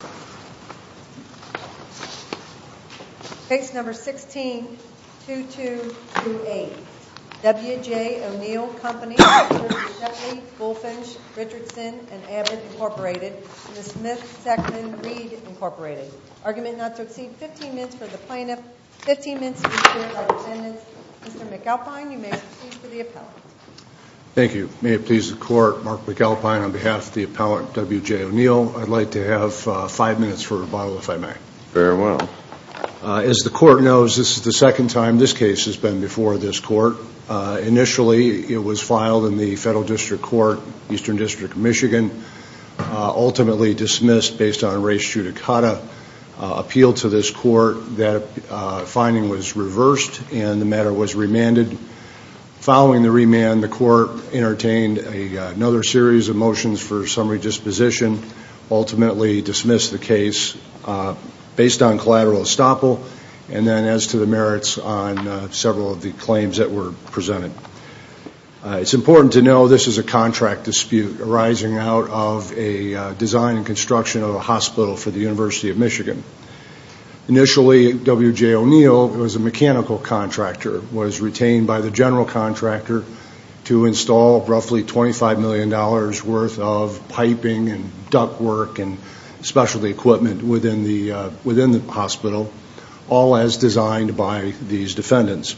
v. Smith Sackman Reed Inc. Argument not to exceed 15 minutes for the plaintiff. 15 minutes for the plaintiff. Mr. McAlpine, you may proceed for the appellant. Thank you. May it please the court, Mark McAlpine on behalf of the appellant W.J. O'Neil, I'd like to have five minutes for rebuttal, if I may. Very well. As the court knows, this is the second time this case has been before this court. Initially, it was filed in the Federal District Court, Eastern District of Michigan, ultimately dismissed based on race judicata appeal to this court. That finding was reversed and the matter was remanded. Following the remand, the court entertained another series of motions for summary disposition, ultimately dismissed the case based on collateral estoppel and then as to the merits on several of the claims that were presented. It's important to know this is a contract dispute arising out of a design and construction of a hospital for the University of Michigan. Initially, W.J. $25 million worth of piping and ductwork and specialty equipment within the hospital, all as designed by these defendants.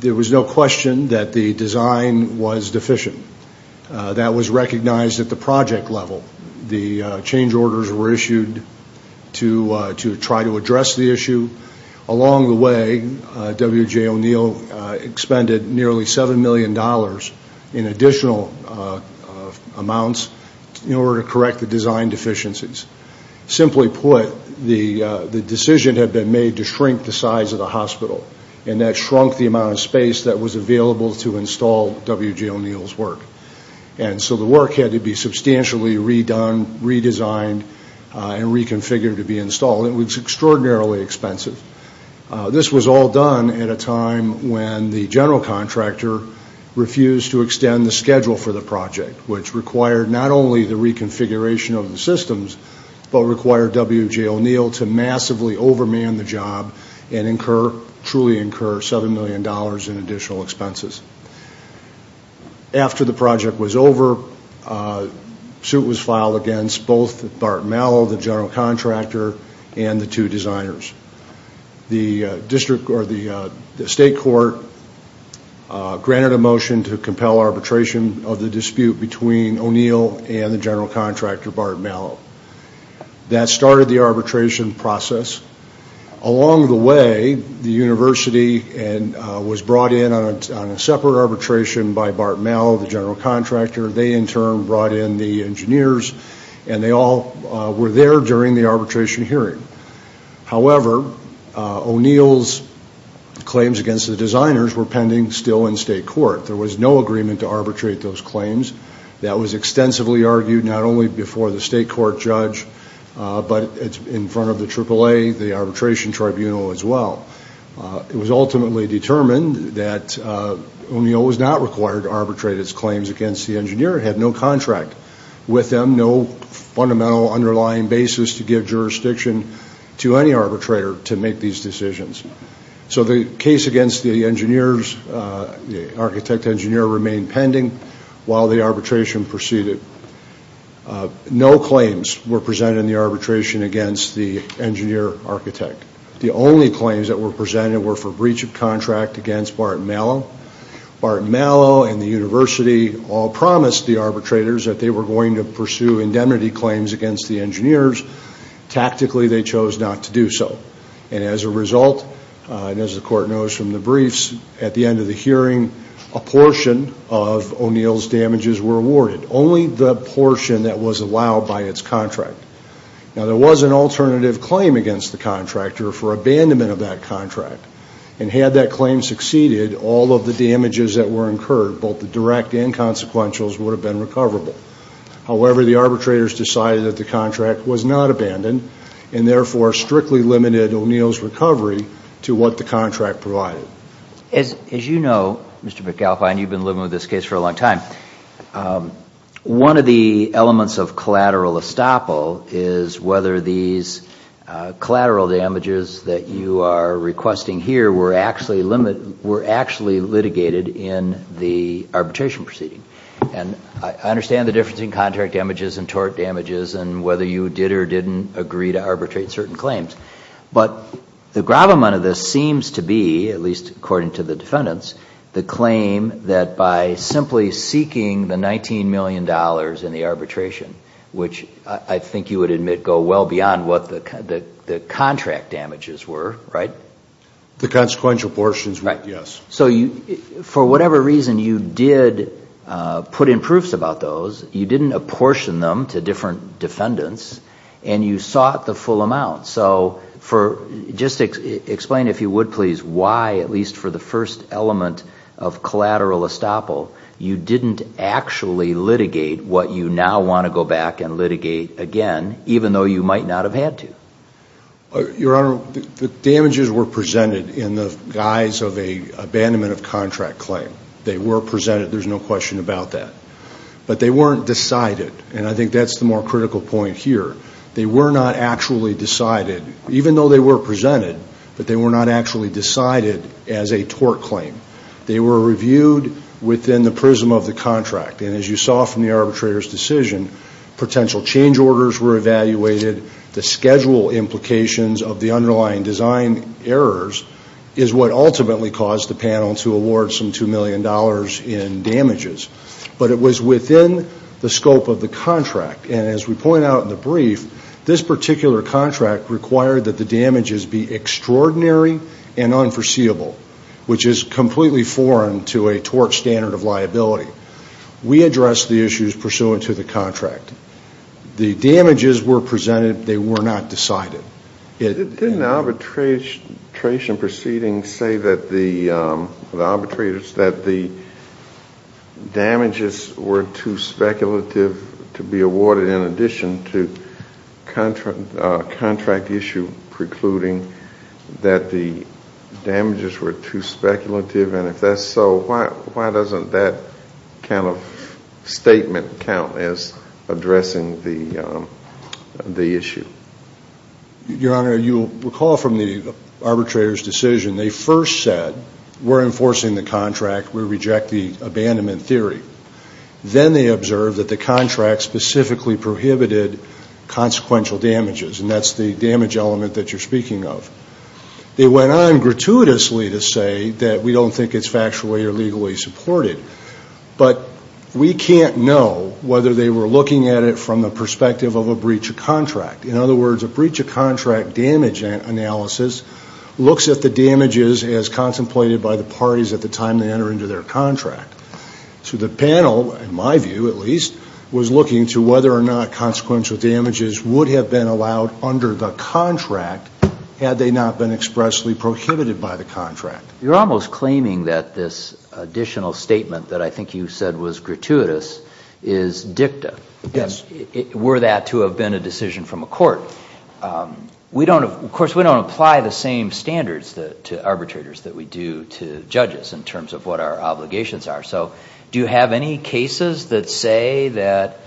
There was no question that the design was deficient. That was recognized at the project level. The change orders were issued to try to address the issue. Along the way, W.J. O'Neill expended nearly $7 million in additional amounts in order to correct the design deficiencies. Simply put, the decision had been made to shrink the size of the hospital and that shrunk the amount of space that was available to install W.J. O'Neill's work. And so the work had to be substantially redone, redesigned and reconfigured to be installed. It was extraordinarily expensive. This was all done at a time when the general contractor refused to extend the schedule for the project, which required not only the reconfiguration of the systems, but required W.J. O'Neill to massively overman the job and incur, truly incur $7 million in additional expenses. After the project was over, a suit was filed against both Bart Mallow, the general contractor, and the two designers. The district, or the state court, granted a motion to compel arbitration of the dispute between O'Neill and the general contractor, Bart Mallow. That started the arbitration process. Along the way, the university was brought in on a separate arbitration by Bart Mallow, the general contractor. They, in turn, brought in the engineers and they all were there during the arbitration hearing. However, O'Neill's claims against the designers were pending still in state court. There was no agreement to arbitrate those claims. That was extensively argued not only before the state court judge, but in front of the AAA, the arbitration tribunal as well. It was ultimately determined that O'Neill was not required to arbitrate its claims against the engineer. It had no contract with them, no fundamental underlying basis to give jurisdiction to any arbitrator to make these decisions. So the case against the architect-engineer remained pending while the arbitration proceeded. No claims were presented in the arbitration against the engineer-architect. The only claims that were presented were breach of contract against Bart Mallow. Bart Mallow and the university all promised the arbitrators that they were going to pursue indemnity claims against the engineers. Tactically, they chose not to do so. And as a result, and as the court knows from the briefs, at the end of the hearing, a portion of O'Neill's damages were awarded. Only the portion that was allowed by its contract. Now, there was an alternative claim against the contractor for abandonment of that contract. And had that claim succeeded, all of the damages that were incurred, both the direct and consequentials, would have been recoverable. However, the arbitrators decided that the contract was not abandoned and therefore strictly limited O'Neill's recovery to what the contract provided. As you know, Mr. McAlpine, you've been living with this case for a long time, one of the that you are requesting here were actually litigated in the arbitration proceeding. And I understand the difference in contract damages and tort damages and whether you did or didn't agree to arbitrate certain claims. But the gravamen of this seems to be, at least according to the defendants, the claim that by simply seeking the $19 million in the arbitration, which I think you would admit go well beyond what the contract damages were, right? The consequential portions, yes. So for whatever reason, you did put in proofs about those. You didn't apportion them to different defendants. And you sought the full amount. So just explain, if you would please, why at least for the first element of collateral estoppel, you didn't actually litigate what you now want to go back and litigate again, even though you might not have had to. Your Honor, the damages were presented in the guise of an abandonment of contract claim. They were presented. There's no question about that. But they weren't decided. And I think that's the more critical point here. They were not actually decided, even though they were presented, but they were not actually decided as a tort claim. They were reviewed within the prism of the contract. And as you saw from the arbitrator's decision, potential change orders were evaluated. The schedule implications of the underlying design errors is what ultimately caused the panel to award some $2 million in damages. But it was within the scope of the contract. And as we point out in the brief, this particular contract required that the damages be extraordinary and unforeseeable, which is completely foreign to a tort standard of liability. We addressed the issues pursuant to the contract. The damages were presented. They were not decided. Didn't the arbitration proceedings say that the damages were too speculative to be awarded in addition to contract issue precluding that the damages were too speculative? And if that's so, why doesn't that kind of statement count as addressing the issue? Your Honor, you'll recall from the arbitrator's decision, they first said, we're enforcing the contract. We reject the abandonment theory. Then they observed that the contract specifically prohibited consequential damages. And that's the damage element that you're speaking of. They went on gratuitously to say that we don't think it's factually or legally supported. But we can't know whether they were looking at it from the perspective of a breach of contract. In other words, a breach of contract damage analysis looks at the damages as contemplated by the parties at the time they enter into their contract. So the panel, in my view at least, was looking to whether or not consequential damages would have been allowed under the contract if they had not been expressly prohibited by the contract. You're almost claiming that this additional statement that I think you said was gratuitous is dicta. Yes. Were that to have been a decision from a court. We don't, of course we don't apply the same standards to arbitrators that we do to judges in terms of what our obligations are. So do you have any cases that say that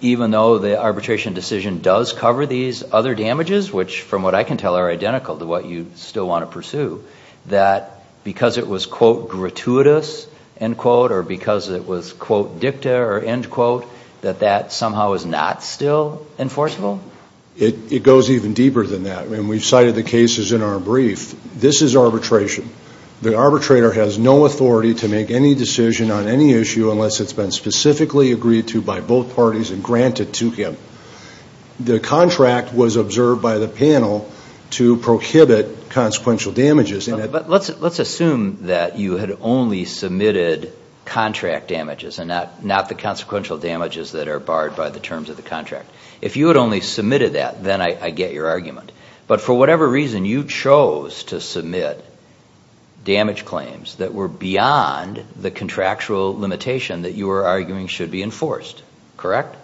even though the arbitration decision does cover these other damages, which from what I can tell are identical to what you still want to pursue, that because it was, quote, gratuitous, end quote, or because it was, quote, dicta or end quote, that that somehow is not still enforceable? It goes even deeper than that. I mean, we've cited the cases in our brief. This is arbitration. The arbitrator has no authority to make any decision on any issue unless it's been specifically agreed to by both parties and granted to him. The contract was observed by the panel to prohibit consequential damages. Let's assume that you had only submitted contract damages and not the consequential damages that are barred by the terms of the contract. If you had only submitted that, then I get your argument. But for whatever reason, you chose to submit damage claims that were beyond the contractual limitation that you were arguing should be enforced, correct?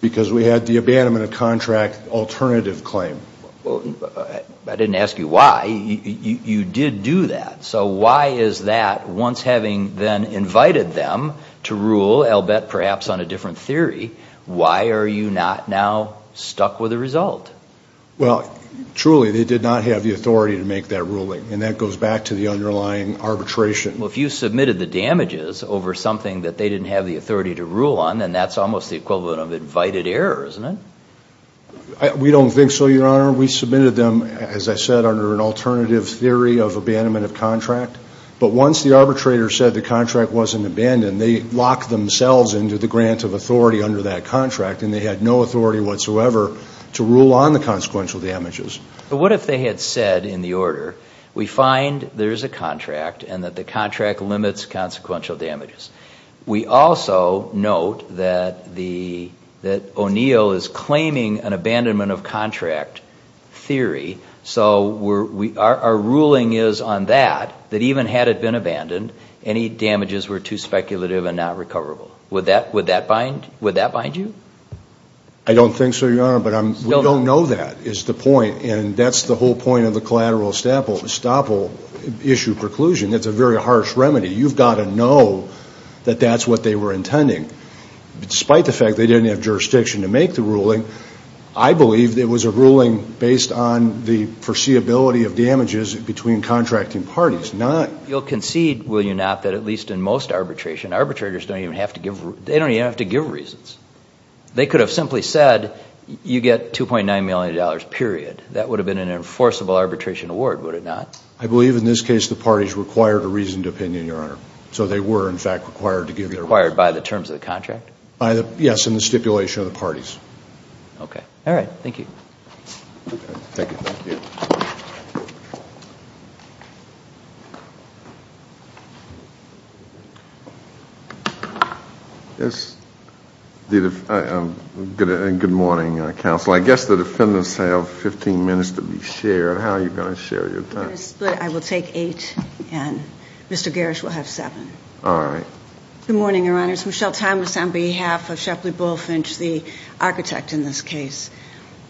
Because we had the abandonment of contract alternative claim. I didn't ask you why. You did do that. So why is that, once having then invited them to rule, I'll bet perhaps on a different theory, why are you not now stuck with the result? Well, truly, they did not have the authority to make that ruling. And that goes back to the underlying arbitration. Well, if you submitted the damages over something that they didn't have the authority to rule on, then that's almost the equivalent of invited error, isn't it? We don't think so, Your Honor. We submitted them, as I said, under an alternative theory of abandonment of contract. But once the arbitrator said the contract wasn't abandoned, they locked themselves into the grant of authority under that contract, and they had no authority whatsoever to rule on the consequential damages. But what if they had said in the order, we find there's a contract and that the contract limits consequential damages. We also note that O'Neill is claiming an abandonment of contract theory, so our ruling is on that, that even had it been abandoned, any damages were too speculative and not recoverable. Would that bind you? I don't think so, Your Honor, but we don't know that is the point. And that's the whole point of the collateral estoppel issue preclusion. It's a very harsh remedy. You've got to know that that's what they were intending. Despite the fact they didn't have jurisdiction to make the ruling, I believe it was a ruling based on the foreseeability of damages between contracting parties, not... You'll concede, will you not, that at least in most arbitration, arbitrators don't even have to give reasons. They could have simply said, you get $2.9 million, period. That would have been an enforceable arbitration award, would it not? I believe in this case the parties required a reasoned opinion, Your Honor. So they were in fact required to give their reasons. Required by the terms of the contract? Yes, in the stipulation of the parties. Good morning, counsel. I guess the defendants have 15 minutes to be shared. How are you going to share your time? We're going to split. I will take eight and Mr. Garish will have seven. All right. Good morning, Your Honor. It's Michelle Thomas on behalf of Shepley Bullfinch, the architect in this case.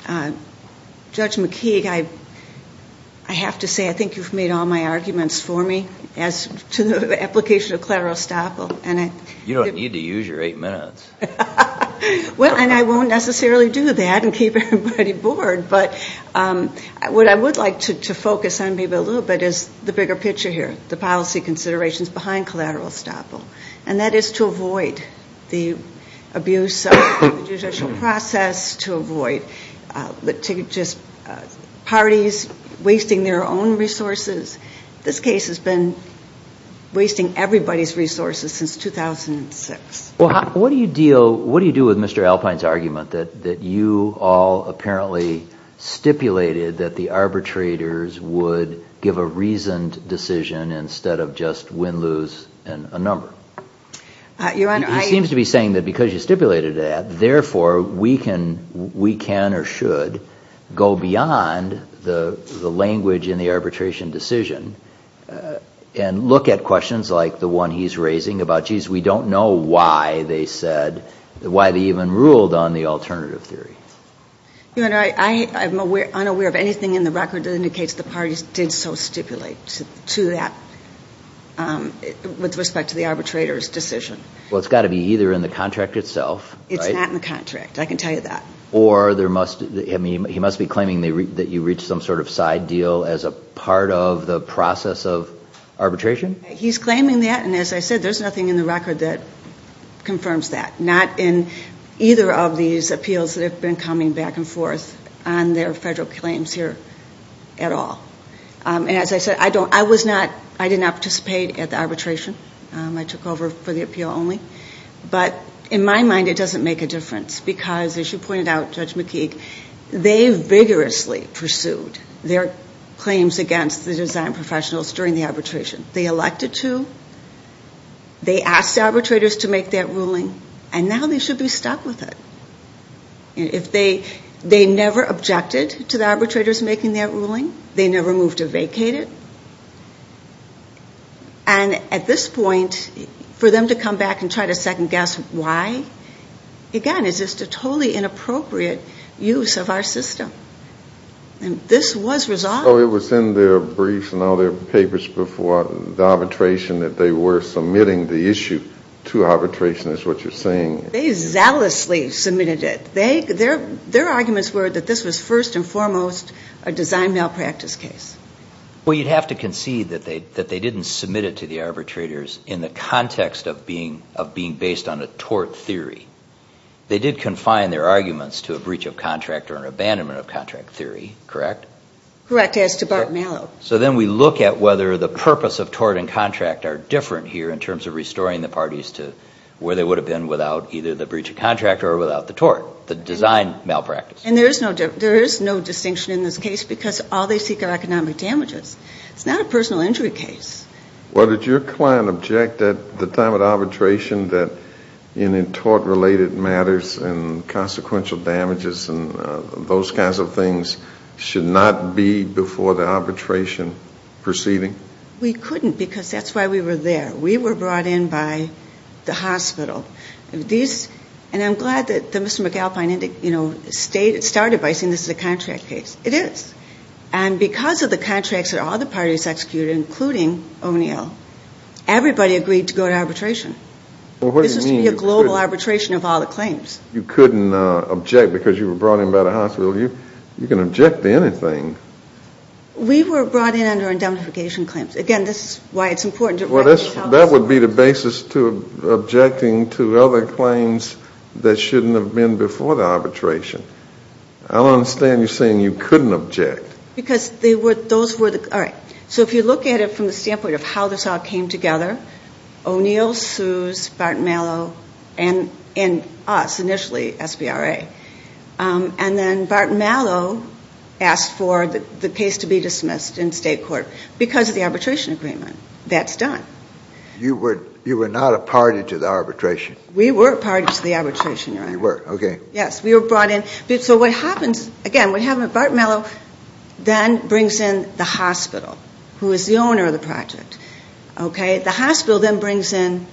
Judge McKeague, I have to say I think you've made all my arguments for me as to the application of collateral estoppel and I... You don't need to use your eight minutes. Well, and I won't necessarily do that and keep everybody bored, but what I would like to focus on maybe a little bit is the bigger picture here, the policy considerations behind collateral estoppel and that is to avoid the abuse of the judicial process, to avoid parties wasting their own resources. This case has been wasting everybody's resources since 2006. What do you deal... What do you do with Mr. Alpine's argument that you all apparently stipulated that the arbitrators would give a reasoned decision instead of just win-lose and a number? Your Honor, I... He seems to be saying that because you stipulated that, therefore, we can or should go beyond the language in the arbitration decision and look at questions like the one he's raising about, geez, we don't know why they said... Why they even ruled on the alternative theory. Your Honor, I am unaware of anything in the record that indicates the parties did so stipulate to that with respect to the arbitrator's decision. Well, it's got to be either in the contract itself... It's not in the contract. I can tell you that. Or there must... He must be claiming that you reached some sort of side deal as a part of the process of arbitration? He's claiming that and as I said, there's nothing in the record that confirms that. Not in either of these appeals that have been coming back and forth on their federal claims here at all. And as I said, I was not... I did not participate at the arbitration. I took over for the appeal only. But in my mind, it doesn't make a difference because as you pointed out, Judge McKeague, they vigorously pursued their claims against the design professionals during the arbitration. They elected to, they asked the arbitrators to make that ruling and now they should be stuck with it. If they never objected to the arbitrators making that ruling, they never moved to vacate it. And at this point, for them to come back and try to second guess why, again, is just a totally inappropriate use of our system. And this was resolved. So it was in their briefs and all their papers before the arbitration that they were submitting the issue to arbitration, is what you're saying? They zealously submitted it. Their arguments were that this was first and foremost a design malpractice case. Well, you'd have to concede that they didn't submit it to the arbitrators in the context of being based on a tort theory. They did confine their arguments to a breach of contract or an abandonment of contract theory, correct? Correct as to Bart Mallow. So then we look at whether the purpose of tort and contract are different here in terms of restoring the parties to where they would have been without either the breach of contract or without the tort, the design malpractice. And there is no distinction in this case because all they seek are economic damages. It's not a personal injury case. Well, did your client object at the time of arbitration that in tort-related matters and consequential damages and those kinds of things should not be before the arbitration proceeding? We couldn't because that's why we were there. We were brought in by the hospital. And I'm glad that Mr. McAlpine started by saying this is a contract case. It is. And because of the contracts that all the parties executed, including O'Neill, everybody agreed to go to arbitration. This was to be a global arbitration of all the claims. You couldn't object because you were brought in by the hospital. You can object to anything. We were brought in under indemnification claims. Again, this is why it's important to recognize that. That would be the basis to objecting to other claims that shouldn't have been before the arbitration. I don't understand you saying you couldn't object. Because those were the, all right. So if you look at it from the standpoint of how this all came together, O'Neill, Suess, Barton Mallow, and us initially, SBRA. And then Barton Mallow asked for the case to be dismissed in state court because of the arbitration agreement. That's done. You were not a party to the arbitration. We were a party to the arbitration, Your Honor. You were, okay. Yes, we were brought in. So what happens, again, what happened, Barton Mallow then brings in the hospital, who is the owner of the project, okay. The hospital then brings in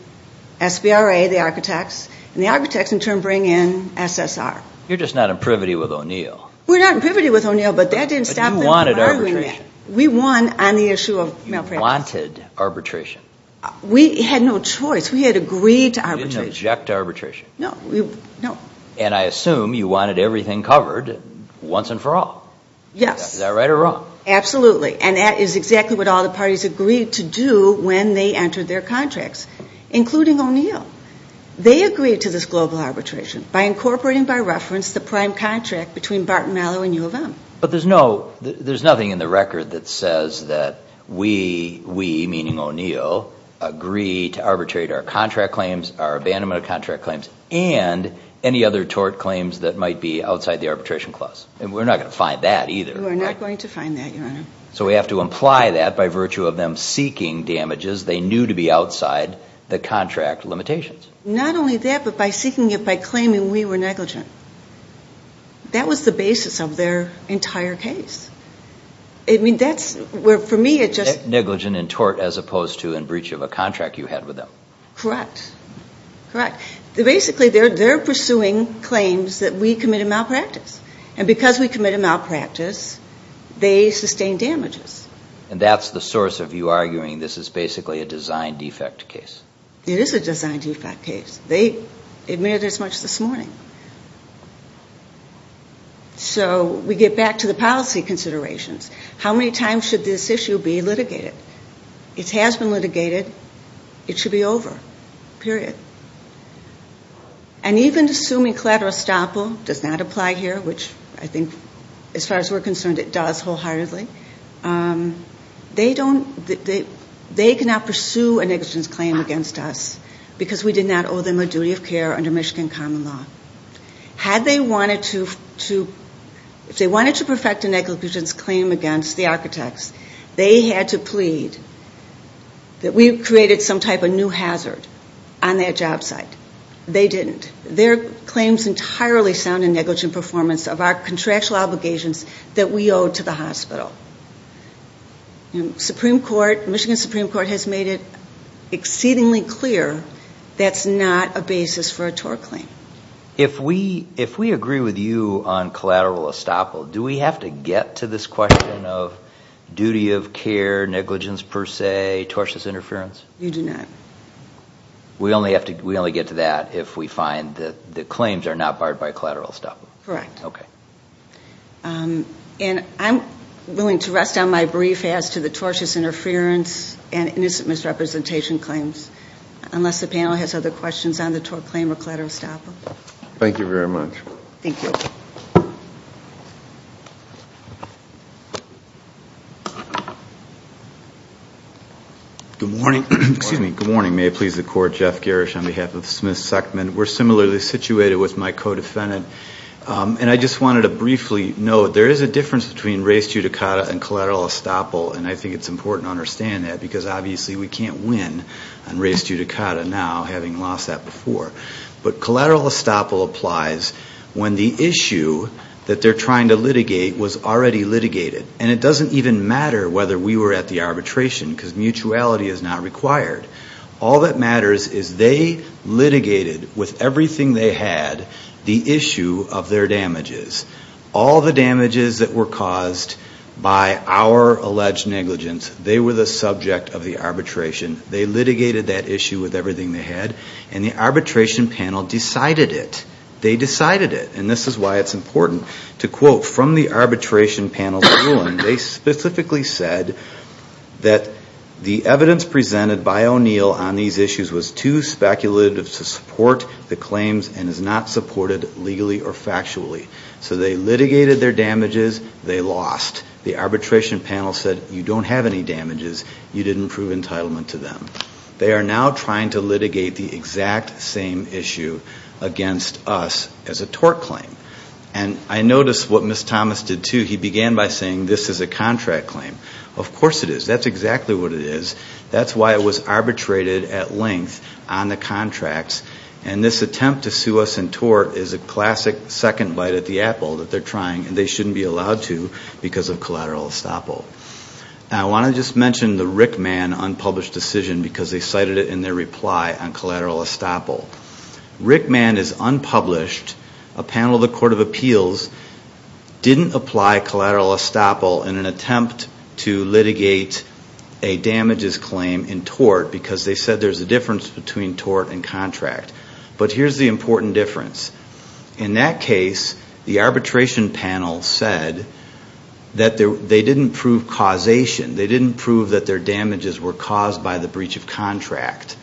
SBRA, the architects, and the architects in turn bring in SSR. You're just not in privity with O'Neill. We're not in privity with O'Neill, but that didn't stop them from arguing that. We won on the issue of malpractice. You wanted arbitration. We had no choice. We had agreed to arbitration. You didn't object to arbitration. No, we, no. And I assume you wanted everything covered once and for all. Yes. Is that right or wrong? Absolutely. And that is exactly what all the parties agreed to do when they entered their contracts, including O'Neill. They agreed to this global arbitration by incorporating by reference the prime contract between Barton Mallow and U of M. But there's no, there's nothing in the record that says that we, we meaning O'Neill, agree to arbitrate our contract claims, our abandonment of contract claims, and any other tort claims that might be outside the arbitration clause. And we're not going to find that either. We're not going to find that, Your Honor. So we have to imply that by virtue of them seeking damages they knew to be outside the contract limitations. Not only that, but by seeking it by claiming we were negligent. That was the basis of their entire case. I mean, that's where, for me, it just... Negligent in tort as opposed to in breach of a contract you had with them. Correct. Correct. Basically, they're, they're pursuing claims that we commit a malpractice. And because we commit a malpractice, they sustain damages. And that's the source of you arguing this is basically a design defect case. It is a design defect case. They admitted as much this morning. So we get back to the policy considerations. How many times should this issue be litigated? It has been litigated. It should be over. Period. And even assuming collateral estoppel does not apply here, which I think, as far as we're concerned, it does wholeheartedly. They don't, they cannot pursue a negligence claim against us because we did not owe them a duty of care under Michigan common law. Had they wanted to, to, if they wanted to perfect a negligence claim against the architects, they had to plead that we created some type of new hazard on their job site. They didn't. Their claims entirely sound in negligent performance of our contractual obligations that we owed to the hospital. And Supreme Court, Michigan Supreme Court has made it exceedingly clear that's not a basis for a tort claim. If we, if we agree with you on collateral estoppel, do we have to get to this question of duty of care, negligence per se, tortious interference? You do not. We only have to, we only get to that if we find that the claims are not barred by collateral estoppel. Correct. Okay. And I'm willing to rest on my brief as to the tortious interference and innocent misrepresentation claims. Unless the panel has other questions on the tort claim or collateral estoppel. Thank you very much. Thank you. Good morning. Excuse me. Good morning. May it please the court. Jeff Garish on behalf of Smith Suckman. We're similarly situated with my co-defendant. And I just wanted to briefly note, there is a difference between res judicata and collateral estoppel. And I think it's important to understand that because obviously we can't win on res judicata now having lost that before. But collateral estoppel applies when the issue that they're trying to litigate was already litigated. And it doesn't even matter whether we were at the arbitration because mutuality is not required. All that matters is they litigated with everything they had the issue of their damages. All the damages that were caused by our alleged negligence, they were the subject of the arbitration. They litigated that issue with everything they had. And the arbitration panel decided it. They decided it. And this is why it's important to quote from the arbitration panel's ruling. They specifically said that the evidence presented by O'Neill on these issues was too speculative to support the claims and is not supported legally or factually. So they litigated their damages. They lost. The arbitration panel said, you don't have any damages. You didn't prove entitlement to them. They are now trying to litigate the exact same issue against us as a tort claim. And I noticed what Ms. Thomas did too. He began by saying this is a contract claim. Of course it is. That's exactly what it is. That's why it was arbitrated at length on the contracts. And this attempt to sue us in tort is a classic second bite at the apple that they're trying and they shouldn't be allowed to because of collateral estoppel. Now I want to just mention the Rickman unpublished decision because they cited it in their reply on collateral estoppel. Rickman is unpublished. A panel of the Court of Appeals didn't apply collateral estoppel in an attempt to litigate a damages claim in tort because they said there's a difference between tort and contract. But here's the important difference. In that case, the arbitration panel said that they didn't prove causation. They didn't prove that their damages were caused by the breach of contract.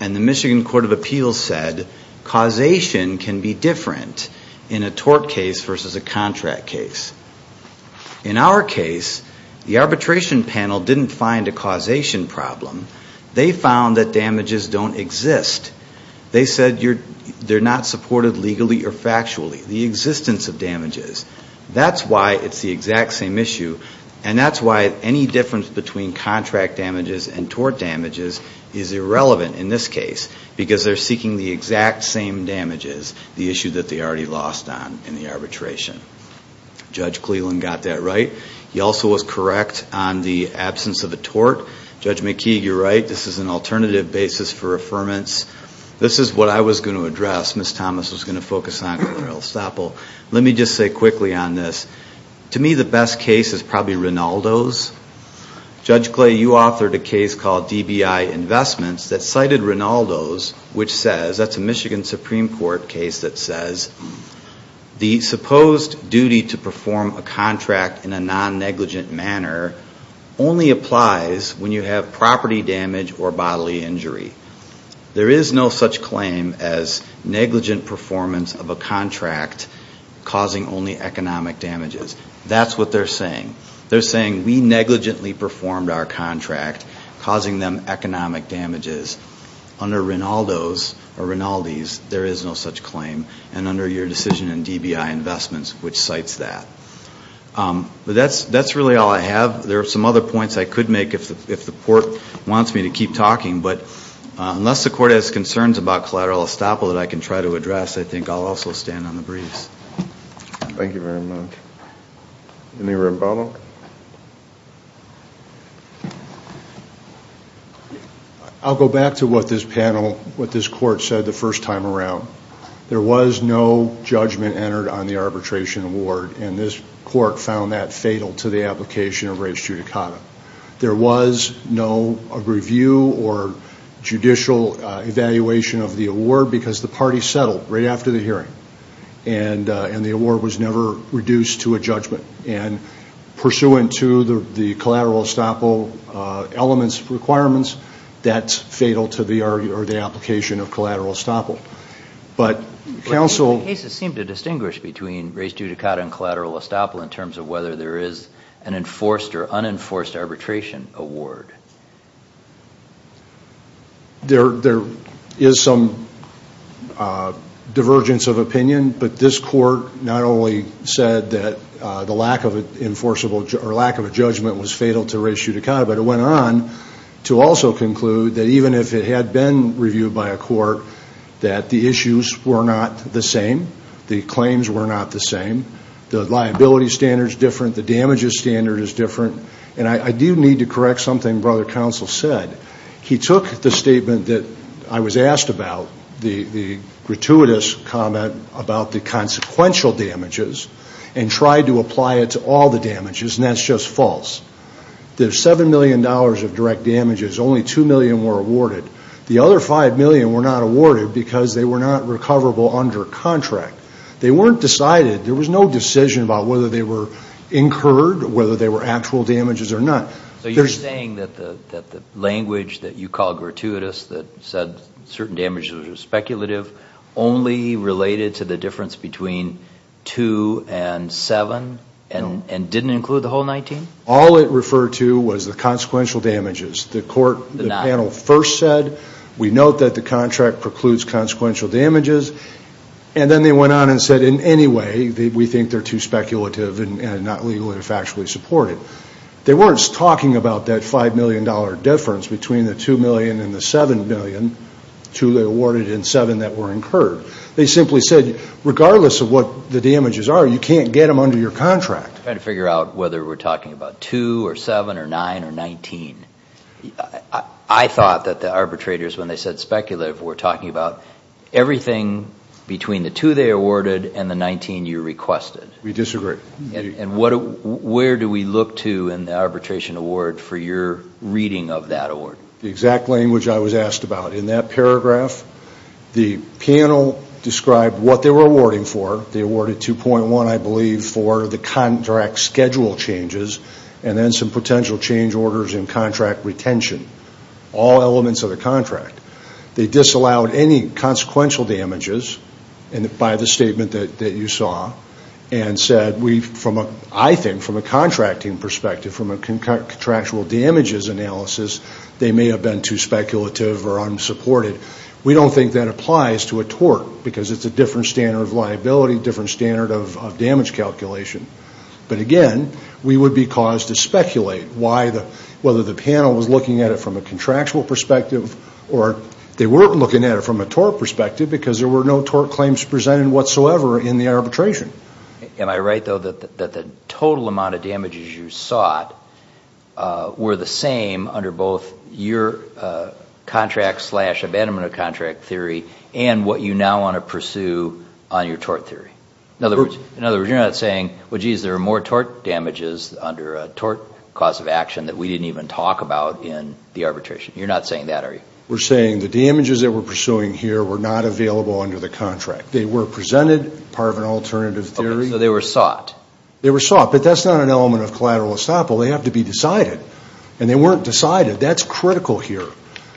And the Michigan Court of Appeals said causation can be different in a tort case versus a contract case. In our case, the arbitration panel didn't find a causation problem. They found that damages don't exist. They said they're not supported legally or factually. The existence of damages. That's why it's the exact same issue and that's why any difference between contract damages and tort damages is irrelevant in this case because they're seeking the exact same damages, the issue that they already lost on in the arbitration. Judge Cleland got that right. He also was correct on the absence of a tort. Judge McKeague, you're right. This is an alternative basis for affirmance. This is what I was going to address. Ms. Thomas was going to focus on. Let me just say quickly on this. To me, the best case is probably Rinaldo's. Judge Clay, you authored a case called DBI Investments that cited Rinaldo's, which says, that's a Michigan Supreme Court case that says, the supposed duty to perform a contract in a non-negligent manner only applies when you have property damage or bodily injury. There is no such claim as negligent performance of a contract causing only economic damages. That's what they're saying. They're saying, we negligently performed our contract causing them economic damages. Under Rinaldo's or Rinaldi's, there is no such claim. And under your decision in DBI Investments, which cites that. But that's really all I have. There are some other points I could make if the court wants me to keep talking. But unless the court has concerns about collateral estoppel that I can try to address, I think I'll also stand on the briefs. Thank you very much. Any rebuttal? I'll go back to what this panel, what this court said the first time around. There was no judgment entered on the arbitration award. This court found that fatal to the application of res judicata. There was no review or judicial evaluation of the award because the party settled right after the hearing. And the award was never reduced to a judgment. Pursuant to the collateral estoppel elements, requirements, that's fatal to the application of collateral estoppel. But counsel... The cases seem to distinguish between res judicata and collateral estoppel in terms of whether there is an enforced or unenforced arbitration award. There is some divergence of opinion. But this court not only said that the lack of an enforceable or lack of a judgment was fatal to res judicata, but it went on to also conclude that even if it had been reviewed by a court, that the issues were not the same. The claims were not the same. The liability standard is different. The damages standard is different. And I do need to correct something brother counsel said. He took the statement that I was asked about, the gratuitous comment about the consequential damages, and tried to apply it to all the damages. And that's just false. There's $7 million of direct damages. Only $2 million were awarded. The other $5 million were not awarded because they were not recoverable under contract. They weren't decided. There was no decision about whether they were incurred, whether they were actual damages or not. So you're saying that the language that you call gratuitous, that said certain damages are speculative, only related to the difference between two and seven, and didn't include the whole 19? All it referred to was the consequential damages. The court, the panel first said, we note that the contract precludes consequential damages. And then they went on and said, in any way, we think they're too speculative and not legally or factually supported. They weren't talking about that $5 million difference between the $2 million and the $7 million, two they awarded and seven that were incurred. They simply said, regardless of what the damages are, you can't get them under your contract. Trying to figure out whether we're talking about two or seven or nine or 19. I thought that the arbitrators, when they said speculative, were talking about everything between the two they awarded and the 19 you requested. We disagree. Where do we look to in the arbitration award for your reading of that award? The exact language I was asked about. In that paragraph, the panel described what they were awarding for. They awarded 2.1, I believe, for the contract schedule changes and then some potential change orders and contract retention. All elements of the contract. They disallowed any consequential damages by the statement that you saw and said, I think, from a contracting perspective, from a contractual damages analysis, they may have been too speculative or unsupported. We don't think that applies to a tort because it's a different standard of liability, different standard of damage calculation. But again, we would be caused to speculate whether the panel was looking at it from a contractual perspective or they were looking at it from a tort perspective because there were no tort claims presented whatsoever in the arbitration. Am I right, though, that the total amount of damages you sought were the same under both your contract slash abandonment of contract theory and what you now want to pursue on your tort theory? In other words, you're not saying, well, geez, there are more tort damages under a tort cause of action that we didn't even talk about in the arbitration. You're not saying that, are you? We're saying the damages that we're pursuing here were not available under the contract. They were presented part of an alternative theory. So they were sought. They were sought. But that's not an element of collateral estoppel. They have to be decided. And they weren't decided. That's critical here.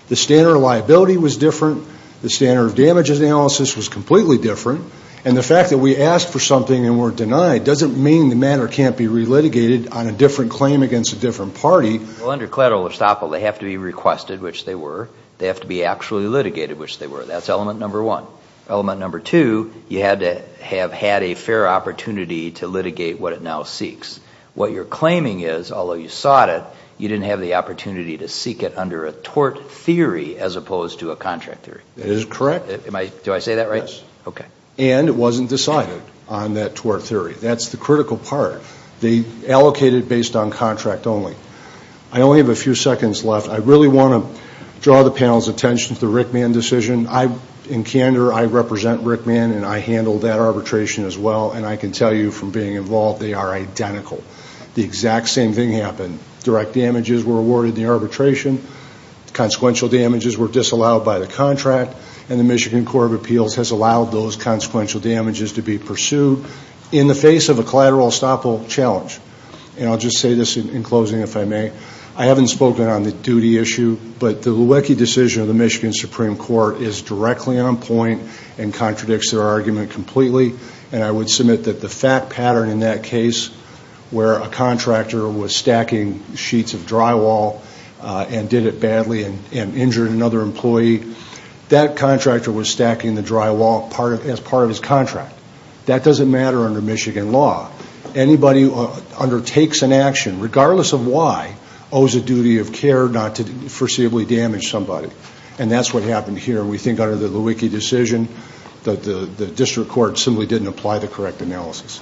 The standard of liability was different. The standard of damages analysis was completely different. And the fact that we asked for something and were denied doesn't mean the matter can't be relitigated on a different claim against a different party. Well, under collateral estoppel, they have to be requested, which they were. They have to be actually litigated, which they were. That's element number one. Element number two, you had to have had a fair opportunity to litigate what it now seeks. What you're claiming is, although you sought it, you didn't have the opportunity to seek it under a tort theory as opposed to a contract theory. That is correct. Do I say that right? Yes. Okay. And it wasn't decided on that tort theory. That's the critical part. They allocated based on contract only. I only have a few seconds left. I really want to draw the panel's attention to the Rickman decision. In candor, I represent Rickman, and I handled that arbitration as well. I can tell you from being involved, they are identical. The exact same thing happened. Direct damages were awarded in the arbitration. Consequential damages were disallowed by the contract. The Michigan Court of Appeals has allowed those consequential damages to be pursued in the face of a collateral estoppel challenge. I'll just say this in closing, if I may. I haven't spoken on the duty issue, but the Lewicki decision of the Michigan Supreme Court is directly on point and contradicts their argument completely. And I would submit that the fact pattern in that case where a contractor was stacking sheets of drywall and did it badly and injured another employee, that contractor was stacking the drywall as part of his contract. That doesn't matter under Michigan law. Anybody who undertakes an action, regardless of why, owes a duty of care not to foreseeably damage somebody. And that's what happened here. We think under the Lewicki decision, the district court simply didn't apply the correct analysis.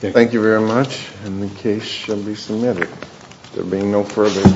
Thank you very much. And the case shall be submitted. There being no further...